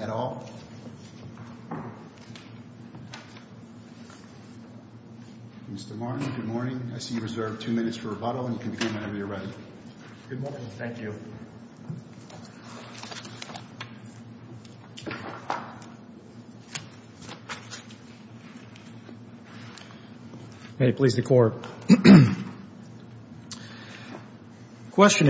at all? Mr. Martin, good morning. I see you reserved two minutes for rebuttal and you can begin whenever you're ready. Good morning. Thank you. May it please the Court. I would like to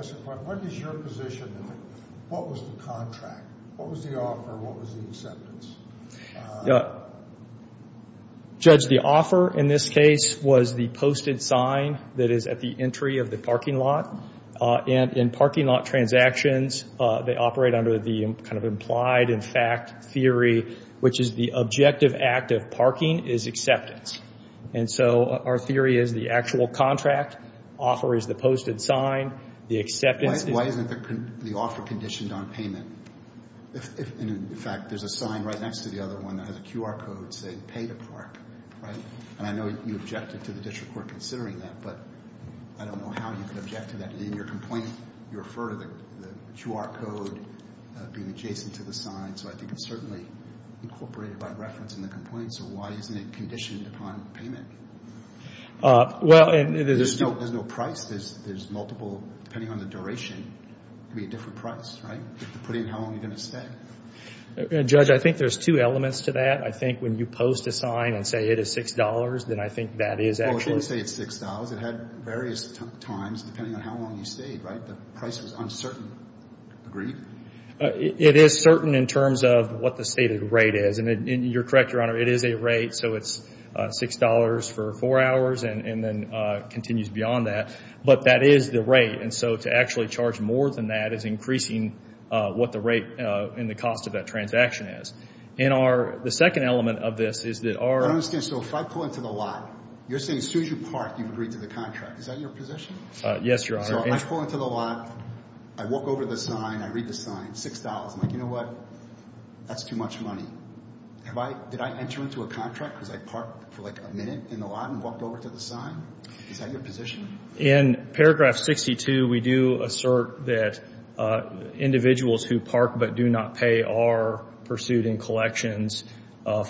ask what is your position? What was the contract? What was the offer? What was the acceptance? Judge, the offer in this case was the posted sign that is at the entry of the parking lot. And in parking lot transactions, they operate under the kind of implied and fact theory, which is the objective act of parking is acceptance. And so our theory is the actual contract offer is the posted sign. The acceptance is... Why isn't the offer conditioned on payment? In fact, there's a sign right next to the other one that has a QR code saying pay to park, right? And I know you objected to the district court considering that, but I don't know how you can object to that. In your complaint, you refer to the QR code being adjacent to the sign. So I think it's certainly incorporated by reference in the complaint. So why isn't it conditioned upon payment? There's no price. There's multiple, depending on the duration, could be a different price, right? Depending on how long you're going to stay. Judge, I think there's two elements to that. I think when you post a sign and say it is $6, then I think that is actually... Well, it didn't say it's $6. It had various times, depending on how long you stayed, right? The price was uncertain. Agreed? It is certain in terms of what the stated rate is. And you're correct, Your Honor, it is a rate. So it's $6 for four hours and then continues beyond that. But that is the rate. And so to actually charge more than that is increasing what the rate and the cost of that transaction is. So if I pull into the lot, you're saying as soon as you park, you've agreed to the contract. Is that your position? Yes, Your Honor. So I pull into the lot, I walk over to the sign, I read the sign, $6. I'm like, you know what? That's too much money. Did I enter into a contract because I parked for like a minute in the lot and walked over to the sign? Is that your position? In paragraph 62, we do assert that individuals who park but do not pay are pursued in collections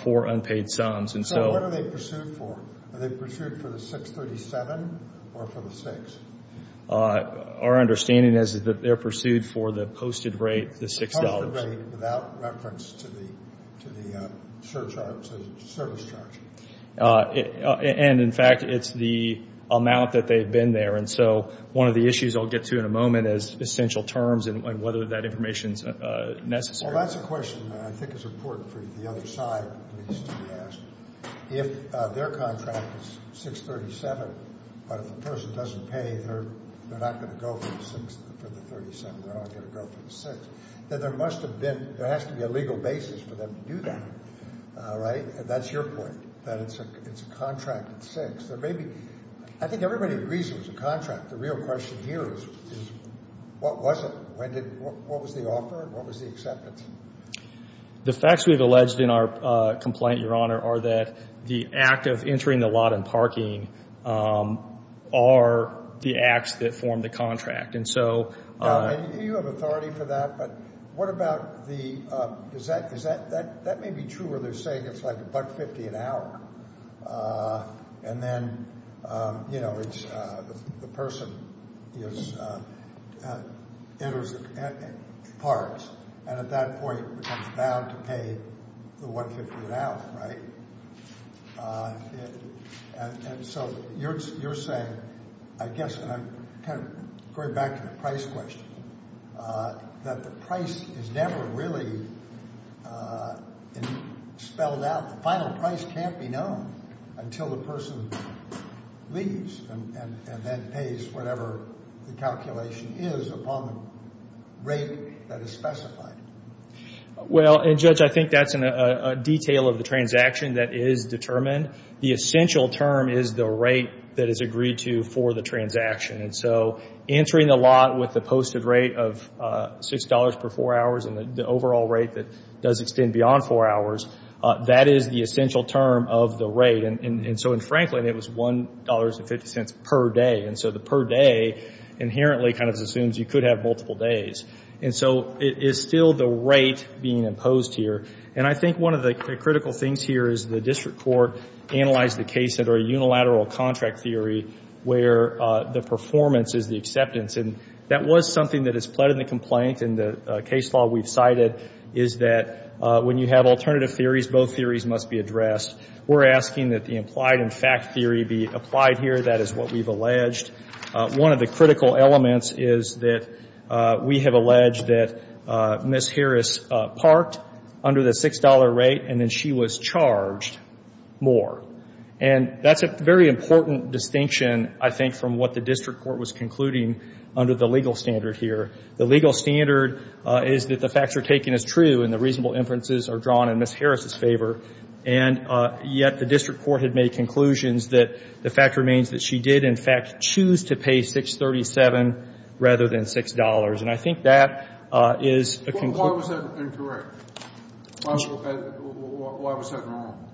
for unpaid sums. So what are they pursued for? Are they pursued for the $6.37 or for the $6? Our understanding is that they're pursued for the posted rate, the $6. The posted rate without reference to the service charge. And in fact, it's the amount that they've been there. And so one of the issues I'll get to in a moment is essential terms and whether that information is necessary. Well, that's a question that I think is important for the other side, at least, to be asked. If their contract is $6.37, but if the person doesn't pay, they're not going to go for the $6.37. They're only going to go for the $6. There has to be a legal basis for them to do that, right? And that's your point, that it's a contract at $6. I think everybody agrees it was a contract. The real question here is what was it? What was the offer? What was the acceptance? The facts we've alleged in our complaint, Your Honor, are that the act of entering the lot and parking are the acts that form the contract. And so... Now, you have authority for that, but what about the, is that, that may be true where they're saying it's like $1.50 an hour. And then, you know, it's, the person is, enters, parks, and at that point becomes bound to pay the $1.50 an hour, right? And so you're saying, I guess, and I'm kind of going back to the price question, that the price is never really spelled out. The final price can't be known until the person leaves and then pays whatever the calculation is upon the rate that is specified. Well, Judge, I think that's a detail of the transaction that is determined. The essential term is the rate that is agreed to for the transaction. And so entering the lot with the posted rate of $6 per 4 hours and the overall rate that does extend beyond 4 hours, that is the essential term of the rate. And so in Franklin, it was $1.50 per day. And so the per day inherently kind of assumes you could have multiple days. And so it is still the rate being imposed here. And I think one of the critical things here is the district court analyzed the case under a unilateral contract theory where the performance is the acceptance. And that was something that is pled in the complaint. And the case law we've cited is that when you have alternative theories, both theories must be addressed. We're asking that the implied and fact theory be applied here. That is what we've alleged. One of the critical elements is that we have alleged that Ms. Harris parked under the $6 rate and then she was charged more. And that's a very important distinction, I think, from what the district court was concluding under the legal standard here. The legal standard is that the facts are taken as true and the reasonable inferences are drawn in Ms. Harris' favor. And yet the district court had made conclusions that the fact remains that she did, in fact, choose to pay $6.37 rather than $6. And I think that is a conclusion. Why was that incorrect? Why was that wrong?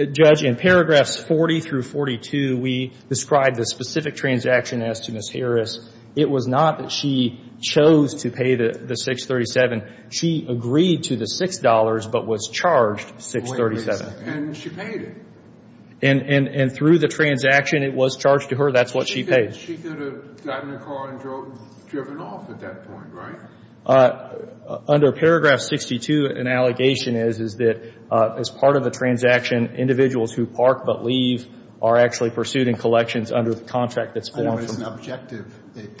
Judge, in paragraphs 40 through 42, we describe the specific transaction as to Ms. Harris. It was not that she chose to pay the $6.37. She agreed to the $6 but was charged $6.37. And she paid it. And through the transaction, it was charged to her. That's what she paid. But she could have gotten her car and driven off at that point, right? Under paragraph 62, an allegation is, is that as part of the transaction, individuals who park but leave are actually pursued in collections under the contract that's formed. Well, it's an objective,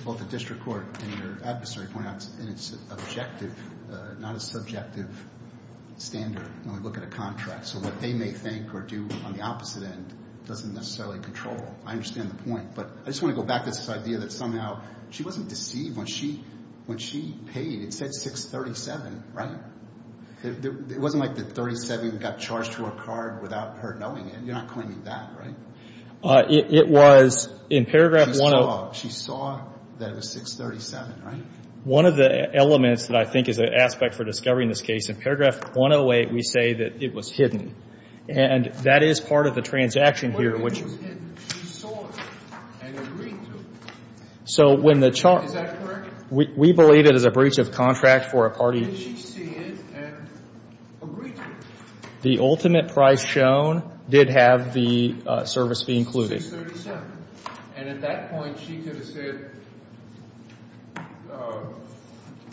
both the district court and your adversary point out, and it's an objective, not a subjective standard when we look at a contract. So what they may think or do on the opposite end doesn't necessarily control. I understand the point. But I just want to go back to this idea that somehow she wasn't deceived when she paid. It said $6.37, right? It wasn't like the $6.37 got charged to her car without her knowing it. You're not claiming that, right? It was in paragraph 108. She saw that it was $6.37, right? One of the elements that I think is an aspect for discovering this case, in paragraph 108, we say that it was hidden. And that is part of the transaction here, which... So when the charge... Is that correct? We believe it is a breach of contract for a party... The ultimate price shown did have the service fee included. $6.37. And at that point, she could have said,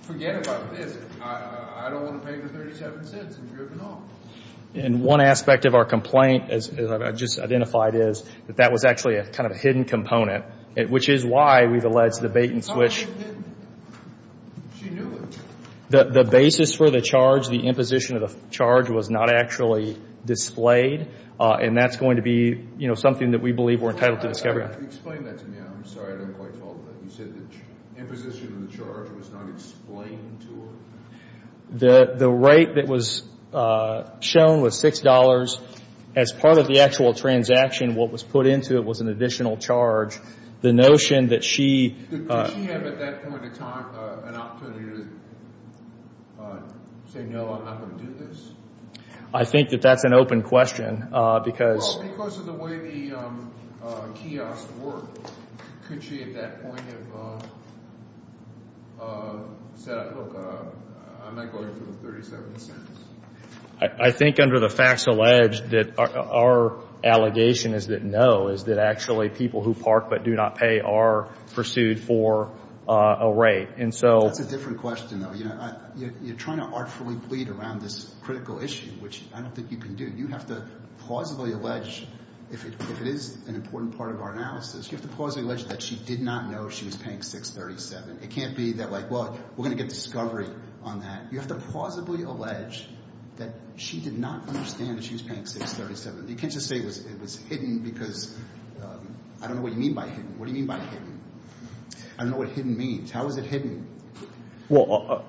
forget about this. I don't want to pay the $0.37 and driven off. And one aspect of our complaint, as I've just identified, is that that was actually a kind of a hidden component, which is why we've alleged the bait and switch. How is it hidden? She knew it. The basis for the charge, the imposition of the charge, was not actually displayed. And that's going to be, you know, something that we believe we're entitled to discover. Explain that to me. I'm sorry I didn't quite follow that. You said the imposition of the charge was not explained to her? The rate that was shown was $6. As part of the actual transaction, what was put into it was an additional charge. The notion that she... I think that that's an open question because... I'm not going for the $0.37. I think under the facts alleged that our allegation is that no, is that actually people who park but do not pay are pursued for a rate. That's a different question, though. You're trying to artfully bleed around this critical issue, which I don't think you can do. You have to plausibly allege, if it is an important part of our analysis, you have to plausibly allege that she did not know she was paying $6.37. It can't be that, like, well, we're going to get discovery on that. You have to plausibly allege that she did not understand that she was paying $6.37. You can't just say it was hidden because I don't know what you mean by hidden. What do you mean by hidden? I don't know what hidden means. How is it hidden? Well,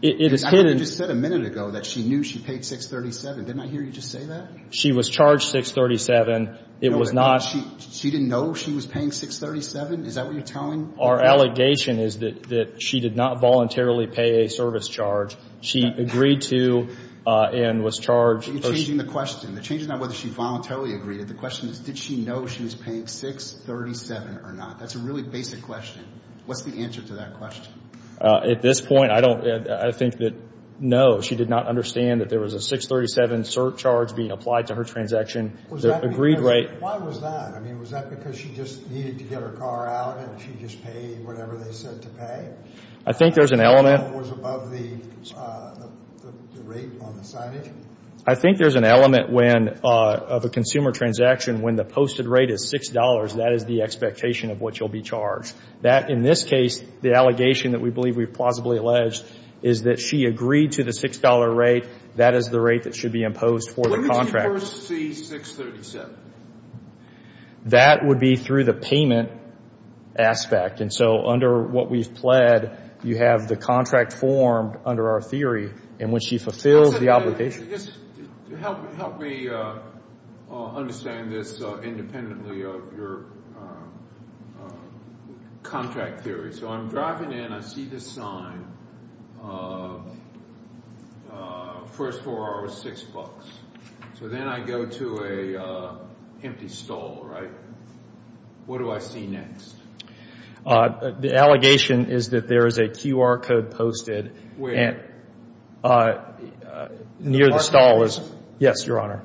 it is hidden... I thought you just said a minute ago that she knew she paid $6.37. Didn't I hear you just say that? She was charged $6.37. It was not... She didn't know she was paying $6.37? Is that what you're telling? Our allegation is that she did not voluntarily pay a service charge. She agreed to and was charged... You're changing the question. The change is not whether she voluntarily agreed. The question is, did she know she was paying $6.37 or not? That's a really basic question. What's the answer to that question? At this point, I don't... I think that, no, she did not understand that there was a $6.37 surcharge being applied to her transaction. Was that... The agreed rate... Why was that? I mean, was that because she just needed to get her car out and she just paid whatever they said to pay? I think there's an element... Was above the rate on the signage? I think there's an element when, of a consumer transaction, when the posted rate is $6, that is the expectation of what you'll be charged. That, in this case, the allegation that we believe we've plausibly alleged is that she agreed to the $6 rate. That is the rate that should be imposed for the contract. When did you first see $6.37? That would be through the payment aspect. And so under what we've pled, you have the contract formed under our theory in which she fulfills the obligation. Help me understand this independently of your contract theory. So I'm driving in. I see this sign. First four are six bucks. So then I go to an empty stall, right? What do I see next? The allegation is that there is a QR code posted. Near the stall is... Yes, Your Honor.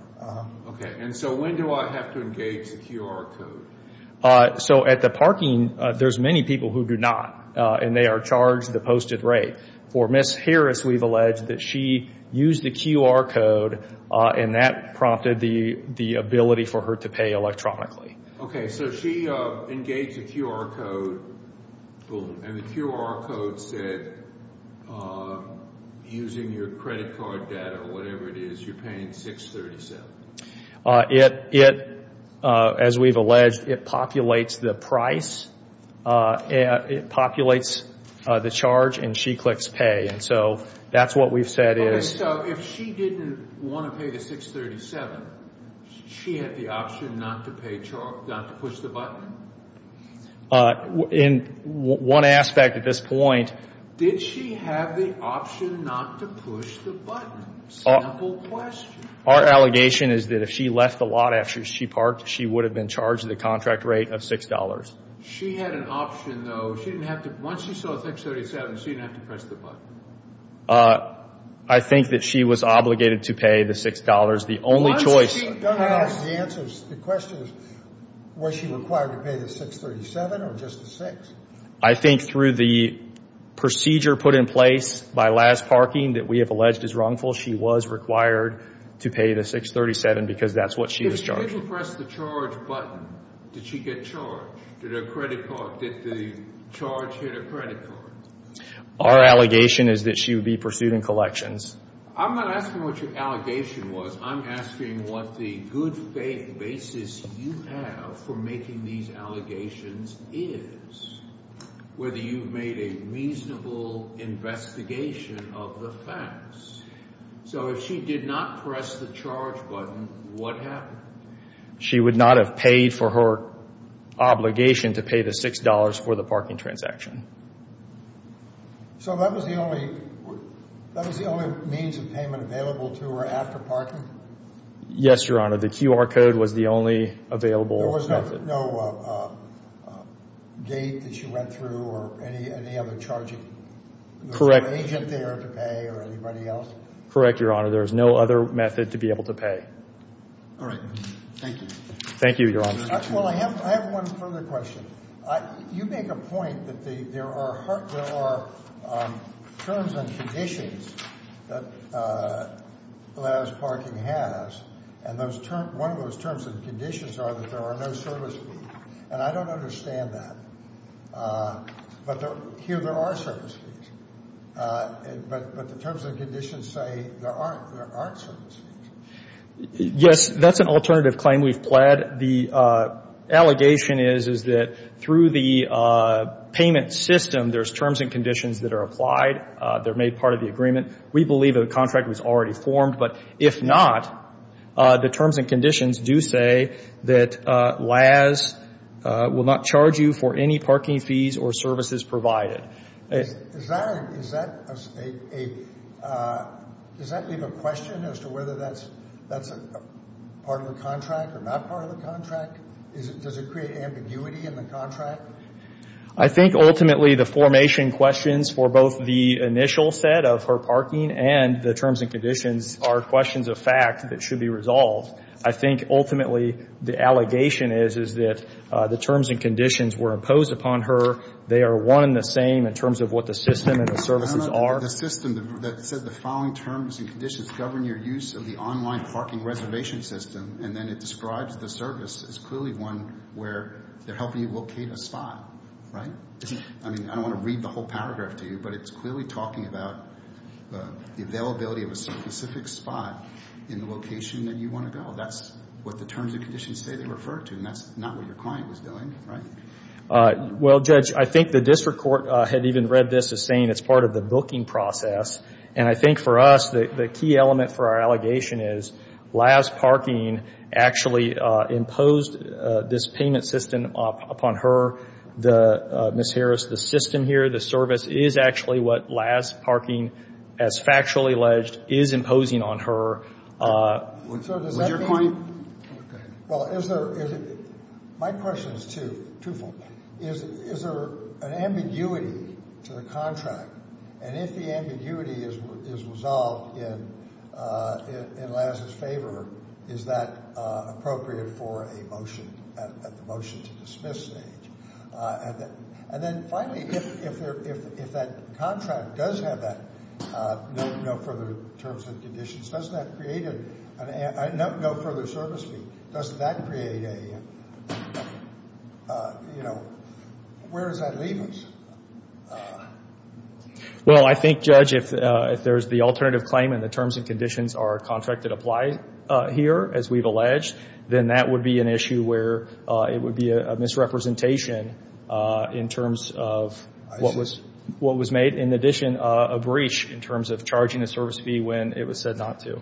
Okay. And so when do I have to engage the QR code? So at the parking, there's many people who do not, and they are charged the posted rate. For Ms. Harris, we've alleged that she used the QR code, and that prompted the ability for her to pay electronically. Okay. So she engaged the QR code, and the QR code said, using your credit card data or whatever it is, you're paying $6.37. It, as we've alleged, it populates the price, it populates the charge, and she clicks pay. And so that's what we've said is... Okay, so if she didn't want to pay the $6.37, she had the option not to push the button? In one aspect at this point... Did she have the option not to push the button? Simple question. Our allegation is that if she left the lot after she parked, she would have been charged the contract rate of $6. She had an option, though. She didn't have to... Once she saw the $6.37, she didn't have to press the button? I think that she was obligated to pay the $6. The only choice... Once she passed... Don't ask the answers. The question is, was she required to pay the $6.37 or just the $6? I think through the procedure put in place by last parking that we have alleged is wrongful, she was required to pay the $6.37 because that's what she was charging. If she didn't press the charge button, did she get charged? Did the charge hit her credit card? Our allegation is that she would be pursued in collections. I'm not asking what your allegation was. I'm asking what the good faith basis you have for making these allegations is, whether you've made a reasonable investigation of the facts. So if she did not press the charge button, what happened? She would not have paid for her obligation to pay the $6 for the parking transaction. So that was the only means of payment available to her after parking? Yes, Your Honor. The QR code was the only available method. There was no gate that she went through or any other charging agent there to pay or anybody else? Correct, Your Honor. There was no other method to be able to pay. All right. Thank you. Thank you, Your Honor. Well, I have one further question. You make a point that there are terms and conditions that last parking has. And one of those terms and conditions are that there are no service fees. And I don't understand that. But here there are service fees. But the terms and conditions say there aren't. There aren't service fees. Yes, that's an alternative claim we've pled. The allegation is, is that through the payment system, there's terms and conditions that are applied. They're made part of the agreement. We believe that a contract was already formed. But if not, the terms and conditions do say that LAS will not charge you for any parking fees or services provided. Does that leave a question as to whether that's part of the contract or not part of the contract? Does it create ambiguity in the contract? I think ultimately the formation questions for both the initial set of her parking and the terms and conditions are questions of fact that should be resolved. I think ultimately the allegation is, is that the terms and conditions were imposed upon her. They are one and the same in terms of what the system and the services are. No, no, no. The system that said the following terms and conditions govern your use of the online parking reservation system, and then it describes the service as clearly one where they're helping you locate a spot, right? I mean, I don't want to read the whole paragraph to you, but it's clearly talking about the availability of a specific spot in the location that you want to go. That's what the terms and conditions say they refer to, and that's not what your client was doing, right? Well, Judge, I think the district court had even read this as saying it's part of the booking process, and I think for us the key element for our allegation is Lazz's parking actually imposed this payment system upon her. Ms. Harris, the system here, the service, is actually what Lazz's parking, as factually alleged, is imposing on her. Was your point? Well, my question is twofold. Is there an ambiguity to the contract, and if the ambiguity is resolved in Lazz's favor, is that appropriate for a motion at the motion to dismiss stage? And then finally, if that contract does have that no further terms and conditions, does that create a no further service fee? Does that create a, you know, where does that leave us? Well, I think, Judge, if there's the alternative claim and the terms and conditions are contracted apply here, as we've alleged, then that would be an issue where it would be a misrepresentation in terms of what was made, in addition, a breach in terms of charging a service fee when it was said not to.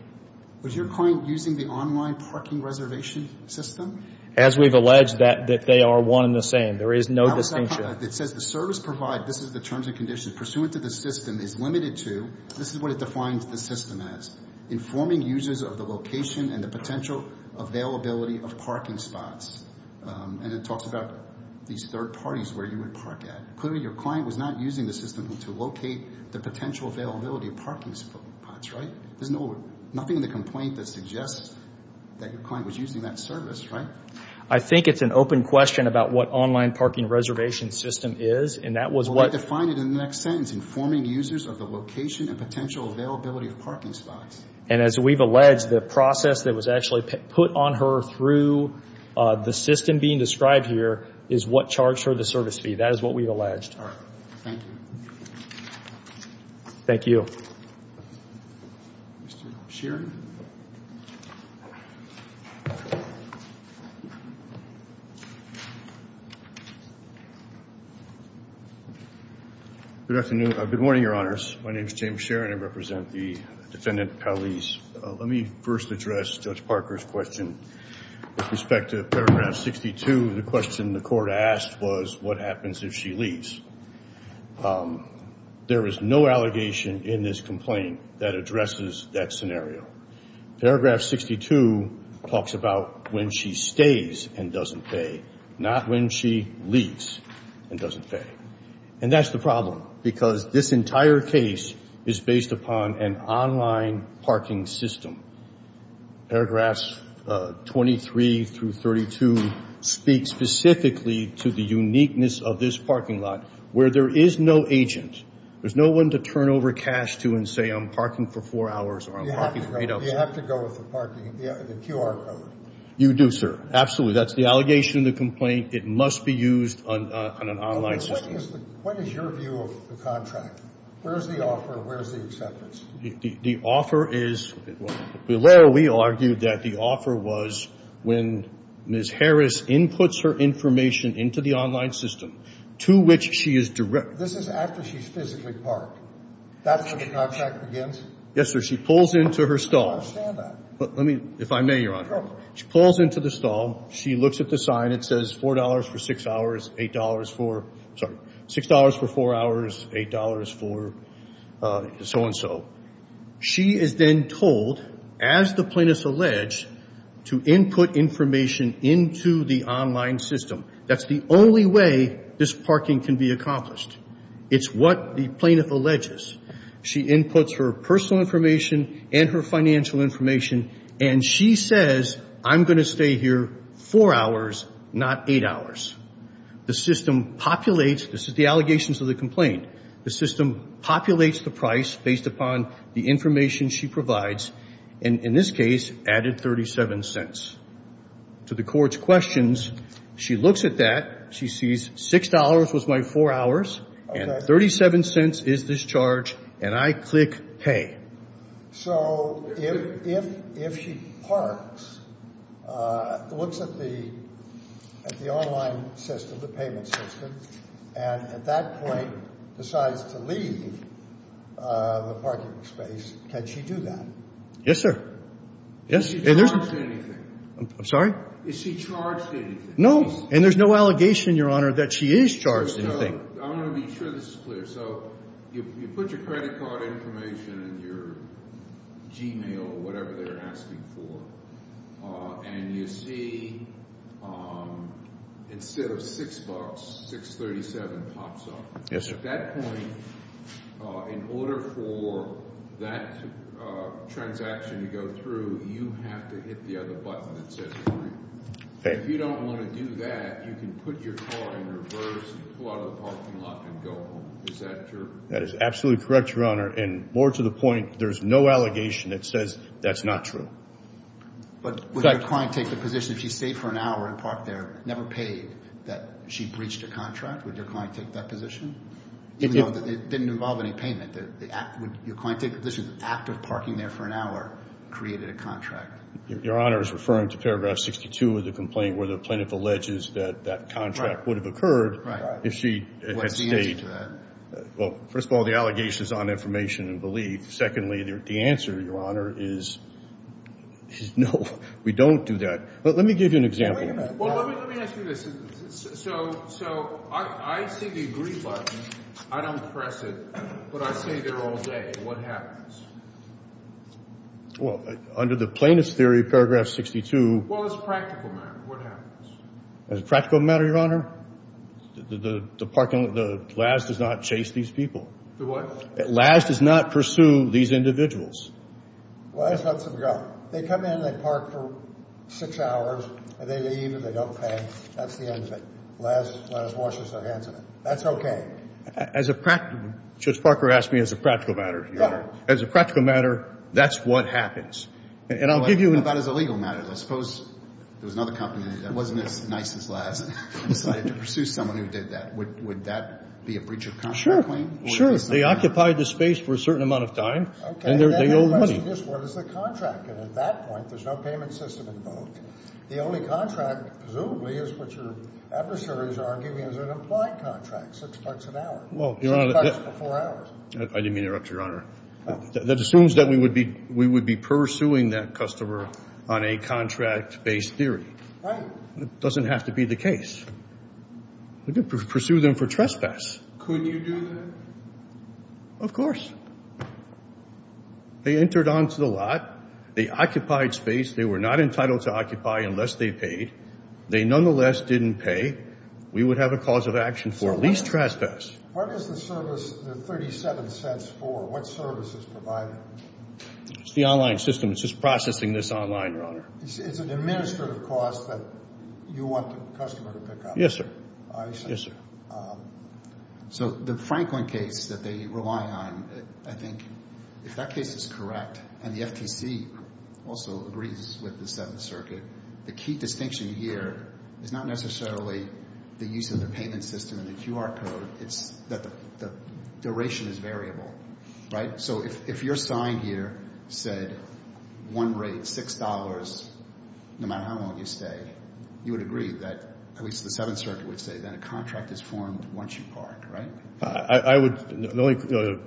Was your client using the online parking reservation system? As we've alleged, that they are one and the same. There is no distinction. It says the service provided, this is the terms and conditions, pursuant to the system, is limited to, this is what it defines the system as, informing users of the location and the potential availability of parking spots. And it talks about these third parties where you would park at. Clearly, your client was not using the system to locate the potential availability of parking spots, right? There's nothing in the complaint that suggests that your client was using that service, right? I think it's an open question about what online parking reservation system is, and that was what- Well, they define it in the next sentence, informing users of the location and potential availability of parking spots. And as we've alleged, the process that was actually put on her through the system being described here is what charged her the service fee. That is what we've alleged. All right. Thank you. Thank you. Mr. Sherin? Good afternoon. Good morning, Your Honors. My name is James Sherin. I represent the Defendant Cowleys. Let me first address Judge Parker's question. With respect to paragraph 62, the question the court asked was what happens if she leaves. There is no allegation in this complaint that addresses that scenario. Paragraph 62 talks about when she stays and doesn't pay, not when she leaves and doesn't pay. And that's the problem, because this entire case is based upon an online parking system. Paragraphs 23 through 32 speak specifically to the uniqueness of this parking lot, where there is no agent. There's no one to turn over cash to and say, I'm parking for four hours or I'm parking for eight hours. You have to go with the parking, the QR code. You do, sir. Absolutely. That's the allegation in the complaint. It must be used on an online system. What is your view of the contract? Where is the offer? Where is the acceptance? The offer is, well, we argued that the offer was when Ms. Harris inputs her information into the online system, to which she is directed. This is after she's physically parked. That's where the contract begins? Yes, sir. She pulls into her stall. I don't understand that. Let me, if I may, Your Honor. Go ahead. She pulls into the stall. She looks at the sign. It says $4 for six hours, $8 for, sorry, $6 for four hours, $8 for so-and-so. She is then told, as the plaintiff's alleged, to input information into the online system. That's the only way this parking can be accomplished. It's what the plaintiff alleges. She inputs her personal information and her financial information, and she says, I'm going to stay here four hours, not eight hours. The system populates the allegations of the complaint. The system populates the price based upon the information she provides, and in this case, added 37 cents. To the court's questions, she looks at that. She sees $6 was my four hours, and 37 cents is this charge, and I click pay. So if she parks, looks at the online system, the payment system, and at that point decides to leave the parking space, can she do that? Yes, sir. Is she charged in anything? I'm sorry? Is she charged in anything? No, and there's no allegation, Your Honor, that she is charged in anything. I want to make sure this is clear. So you put your credit card information and your Gmail or whatever they're asking for, and you see instead of $6, $6.37 pops up. Yes, sir. At that point, in order for that transaction to go through, you have to hit the other button that says agree. If you don't want to do that, you can put your car in reverse, pull out of the parking lot and go home. Is that true? That is absolutely correct, Your Honor, and more to the point, there's no allegation that says that's not true. But would your client take the position if she stayed for an hour and parked there, never paid, that she breached a contract? Would your client take that position? Even though it didn't involve any payment, would your client take the position that the act of parking there for an hour created a contract? Your Honor is referring to paragraph 62 of the complaint where the plaintiff alleges that that contract would have occurred if she had stayed. Well, first of all, the allegation is on information and belief. Secondly, the answer, Your Honor, is no, we don't do that. Let me give you an example. Well, let me ask you this. So I see the agree button. I don't press it, but I stay there all day. What happens? Well, under the plaintiff's theory, paragraph 62. Well, it's a practical matter. What happens? It's a practical matter, Your Honor. The parking lot, the LAS, does not chase these people. The what? LAS does not pursue these individuals. Well, that's not subjective. They come in, they park for six hours, and they leave and they don't pay. That's the end of it. LAS washes their hands of it. That's okay. As a practical, Judge Parker asked me as a practical matter, Your Honor. As a practical matter, that's what happens. And I'll give you an answer. I thought it was a legal matter. I suppose there was another company that wasn't as nice as LAS and decided to pursue someone who did that. Would that be a breach of contract claim? Sure. They occupy the space for a certain amount of time, and they owe money. Let me ask you this. What is the contract? And at that point, there's no payment system invoked. The only contract, presumably, is what your adversaries are giving as an implied contract, six bucks an hour. Six bucks for four hours. I didn't mean to interrupt, Your Honor. That assumes that we would be pursuing that customer on a contract-based theory. Right. It doesn't have to be the case. We could pursue them for trespass. Could you do that? Of course. They entered onto the lot. They occupied space. They were not entitled to occupy unless they paid. They nonetheless didn't pay. We would have a cause of action for at least trespass. What is the service, the $0.37 for? What service is provided? It's the online system. It's just processing this online, Your Honor. It's an administrative cost that you want the customer to pick up? Yes, sir. I see. Yes, sir. So the Franklin case that they rely on, I think, if that case is correct, and the FTC also agrees with the Seventh Circuit, the key distinction here is not necessarily the use of the payment system and the QR code. It's that the duration is variable. Right? So if your sign here said one rate, $6, no matter how long you stay, you would agree that at least the Seventh Circuit would say that a contract is formed once you park. Right? The only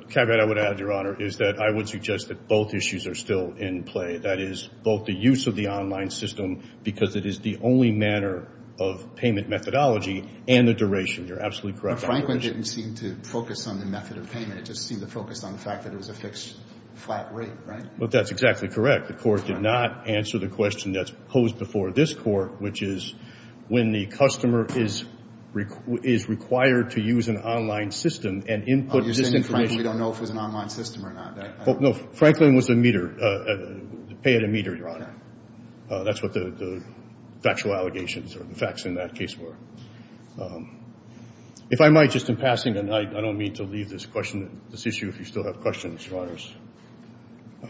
caveat I would add, Your Honor, is that I would suggest that both issues are still in play, that is both the use of the online system because it is the only manner of payment methodology and the duration. You're absolutely correct. But Franklin didn't seem to focus on the method of payment. It just seemed to focus on the fact that it was a fixed flat rate. Right? That's exactly correct. The Court did not answer the question that's posed before this Court, which is when the customer is required to use an online system and input this information. You're saying, frankly, we don't know if it was an online system or not. No. Franklin was a meter. Pay at a meter, Your Honor. That's what the factual allegations or the facts in that case were. If I might, just in passing, and I don't mean to leave this question, this issue, if you still have questions, Your Honors.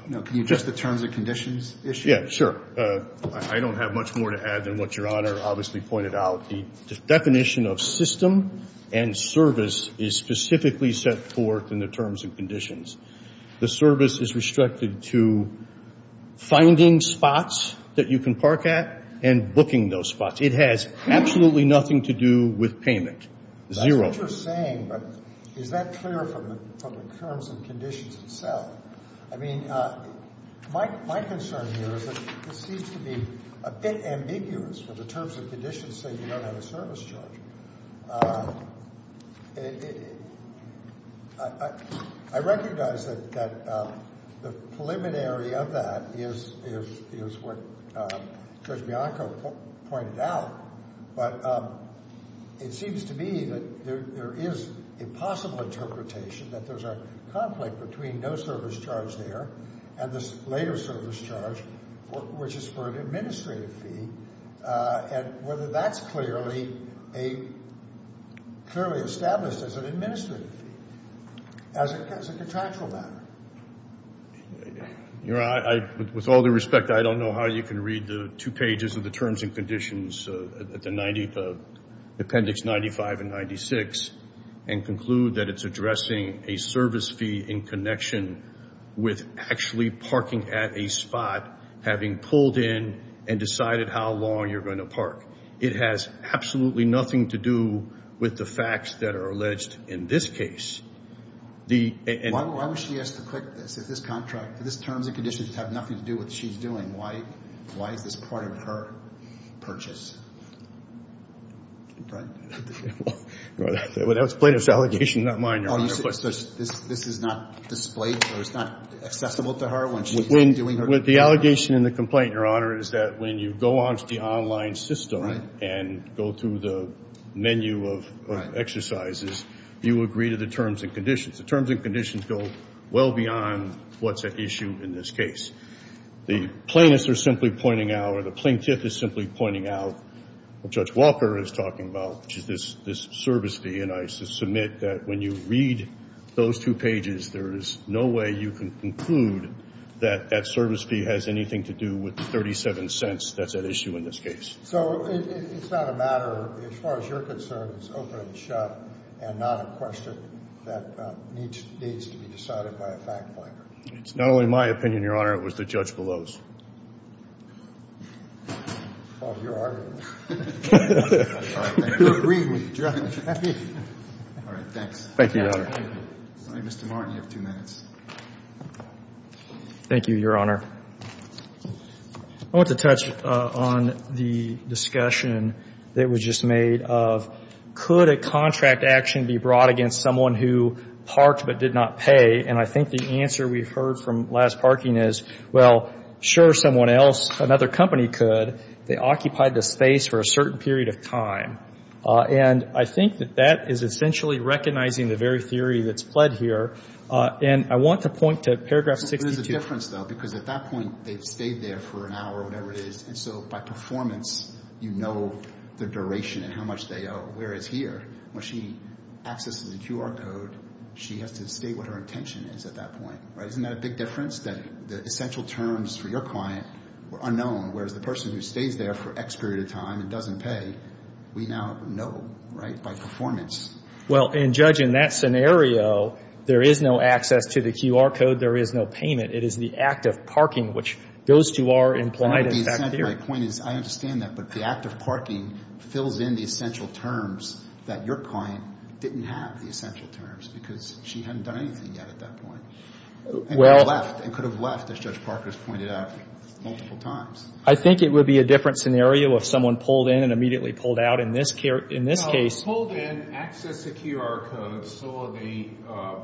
No. Can you address the terms and conditions issue? Yeah, sure. I don't have much more to add than what Your Honor obviously pointed out. The definition of system and service is specifically set forth in the terms and conditions. The service is restricted to finding spots that you can park at and booking those spots. It has absolutely nothing to do with payment. Zero. That's what you're saying, but is that clear from the terms and conditions itself? I mean, my concern here is that this seems to be a bit ambiguous when the terms and conditions say you don't have a service charge. I recognize that the preliminary of that is what Judge Bianco pointed out, but it seems to me that there is a possible interpretation that there's a conflict between no service charge there and this later service charge, which is for an administrative fee, and whether that's clearly established as an administrative fee, as a contractual matter. Your Honor, with all due respect, I don't know how you can read the two pages of the terms and conditions at Appendix 95 and 96 and conclude that it's addressing a service fee in connection with actually parking at a spot, having pulled in and decided how long you're going to park. It has absolutely nothing to do with the facts that are alleged in this case. Why would she ask to quit this? If this contract, if this terms and conditions have nothing to do with what she's doing, why is this part of her purchase? Well, that was Plato's allegation, not mine, Your Honor. This is not displayed or it's not accessible to her when she's not doing her job? The allegation in the complaint, Your Honor, is that when you go onto the online system and go through the menu of exercises, you agree to the terms and conditions. The terms and conditions go well beyond what's at issue in this case. The plaintiffs are simply pointing out, or the plaintiff is simply pointing out, what Judge Walker is talking about, which is this service fee, and I submit that when you read those two pages, there is no way you can conclude that that service fee has anything to do with the 37 cents that's at issue in this case. So it's not a matter, as far as you're concerned, it's open and shut and not a question that needs to be decided by a fact finder? It's not only my opinion, Your Honor. It was the judge below's. Well, you're arguing. You agree with the judge. All right. Thanks. Thank you, Your Honor. Mr. Martin, you have two minutes. Thank you, Your Honor. I want to touch on the discussion that was just made of, could a contract action be brought against someone who parked but did not pay? And I think the answer we heard from last parking is, well, sure, someone else, another company could. They occupied the space for a certain period of time. And I think that that is essentially recognizing the very theory that's pled here. And I want to point to paragraph 62. There's a difference, though, because at that point they've stayed there for an hour or whatever it is, and so by performance you know the duration and how much they owe. Whereas here, when she accesses the QR code, she has to state what her intention is at that point. Isn't that a big difference, that the essential terms for your client are unknown, whereas the person who stays there for X period of time and doesn't pay, we now know, right, by performance. Well, Judge, in that scenario, there is no access to the QR code. There is no payment. It is the act of parking, which those two are implied in fact here. I understand that, but the act of parking fills in the essential terms that your client didn't have, the essential terms, because she hadn't done anything yet at that point. And could have left, as Judge Parker has pointed out, multiple times. I think it would be a different scenario if someone pulled in and immediately pulled out. In this case. Pulled in, accessed the QR code, saw the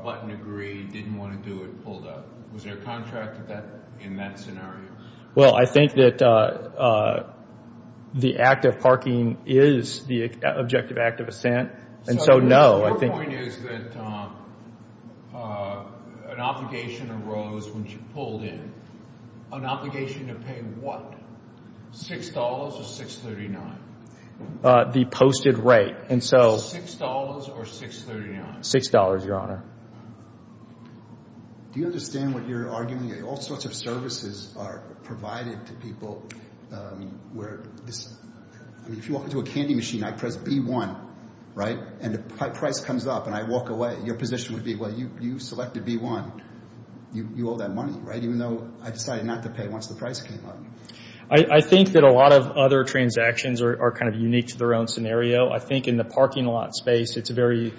button agree, didn't want to do it, pulled out. Was there a contract in that scenario? Well, I think that the act of parking is the objective act of assent, and so no. My point is that an obligation arose when she pulled in. An obligation to pay what? $6 or $6.39? The posted rate. $6 or $6.39? $6, Your Honor. Do you understand what you're arguing? All sorts of services are provided to people where this, I mean, if you walk into a candy machine, I press B1, right? And the price comes up, and I walk away. Your position would be, well, you selected B1. You owe that money, right? Even though I decided not to pay once the price came up. I think that a lot of other transactions are kind of unique to their own scenario. I think in the parking lot space, it's a very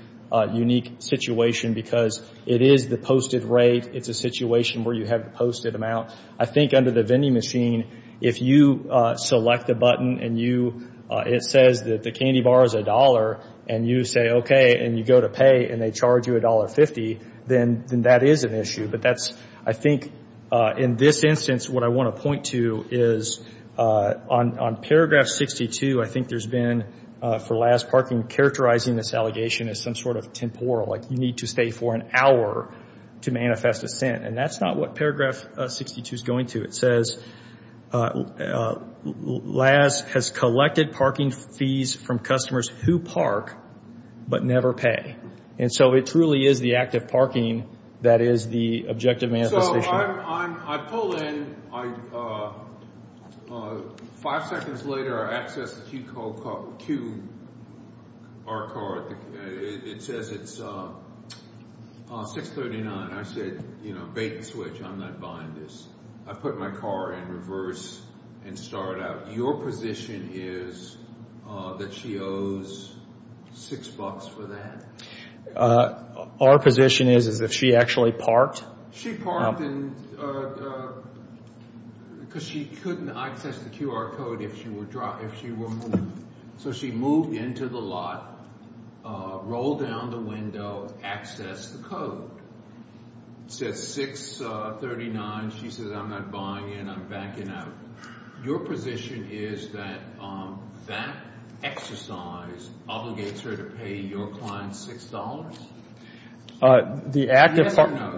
unique situation because it is the posted rate. It's a situation where you have the posted amount. I think under the vending machine, if you select a button and you, it says that the candy bar is $1, and you say, okay, and you go to pay, and they charge you $1.50, then that is an issue. But that's, I think, in this instance, what I want to point to is on paragraph 62, I think there's been, for last parking, characterizing this allegation as some sort of temporal, like you need to stay for an hour to manifest assent. And that's not what paragraph 62 is going to. It says, LAS has collected parking fees from customers who park but never pay. And so it truly is the active parking that is the objective manifestation. So I pull in. Five seconds later, I access the QR card. It says it's 639. I said, you know, bait and switch. I'm not buying this. I put my car in reverse and start out. Your position is that she owes $6 for that? Our position is, is if she actually parked. She parked because she couldn't access the QR code if she were moved. So she moved into the lot, rolled down the window, accessed the code. It says 639. She says, I'm not buying in. I'm backing out. Your position is that that exercise obligates her to pay your client $6?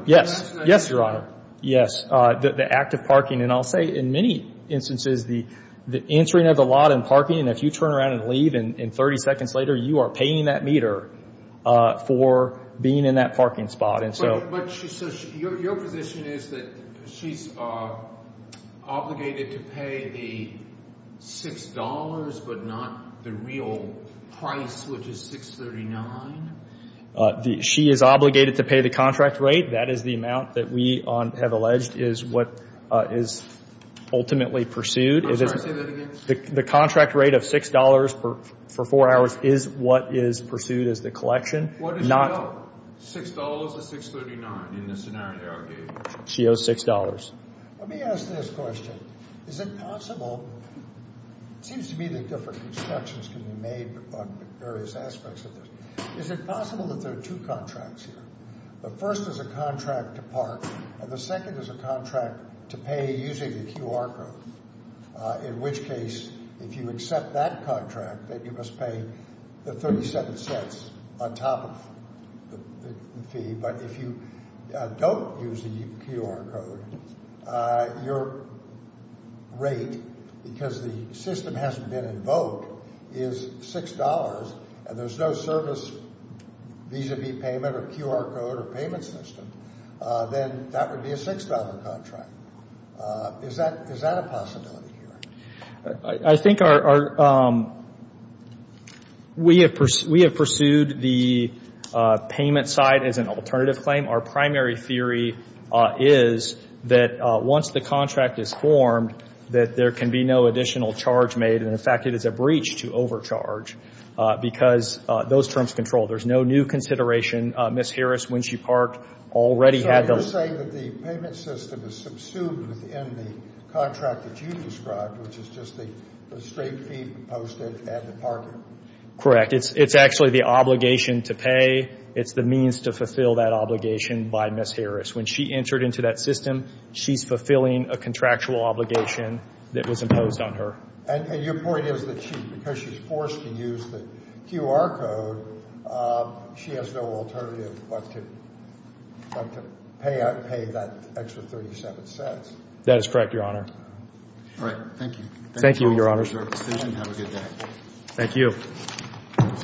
Yes, Your Honor. Yes, the active parking. And I'll say, in many instances, the entering of the lot and parking, and if you turn around and leave and 30 seconds later, you are paying that meter for being in that parking spot. So your position is that she's obligated to pay the $6 but not the real price, which is 639? She is obligated to pay the contract rate. That is the amount that we have alleged is what is ultimately pursued. I'm sorry, say that again. The contract rate of $6 for four hours is what is pursued as the collection. What does she owe, $6 or 639 in this scenario? She owes $6. Let me ask this question. Is it possible, it seems to me that different constructions can be made on various aspects of this. Is it possible that there are two contracts here? The first is a contract to park, and the second is a contract to pay using the QR code, in which case, if you accept that contract, that you must pay the 37 cents on top of the fee. But if you don't use the QR code, your rate, because the system hasn't been invoked, is $6, and there's no service vis-a-vis payment or QR code or payment system, then that would be a $6 contract. Is that a possibility here? I think we have pursued the payment side as an alternative claim. Our primary theory is that once the contract is formed, that there can be no additional charge made. And, in fact, it is a breach to overcharge because those terms control. There's no new consideration. Ms. Harris, when she parked, already had the ---- So you're saying that the payment system is subsumed within the contract that you described, which is just the straight fee posted at the parking? Correct. It's actually the obligation to pay. It's the means to fulfill that obligation by Ms. Harris. When she entered into that system, she's fulfilling a contractual obligation that was imposed on her. And your point is that because she's forced to use the QR code, she has no alternative but to pay that extra $0.37. That is correct, Your Honor. All right. Thank you. Thank you, Your Honors. Have a good day. Thank you.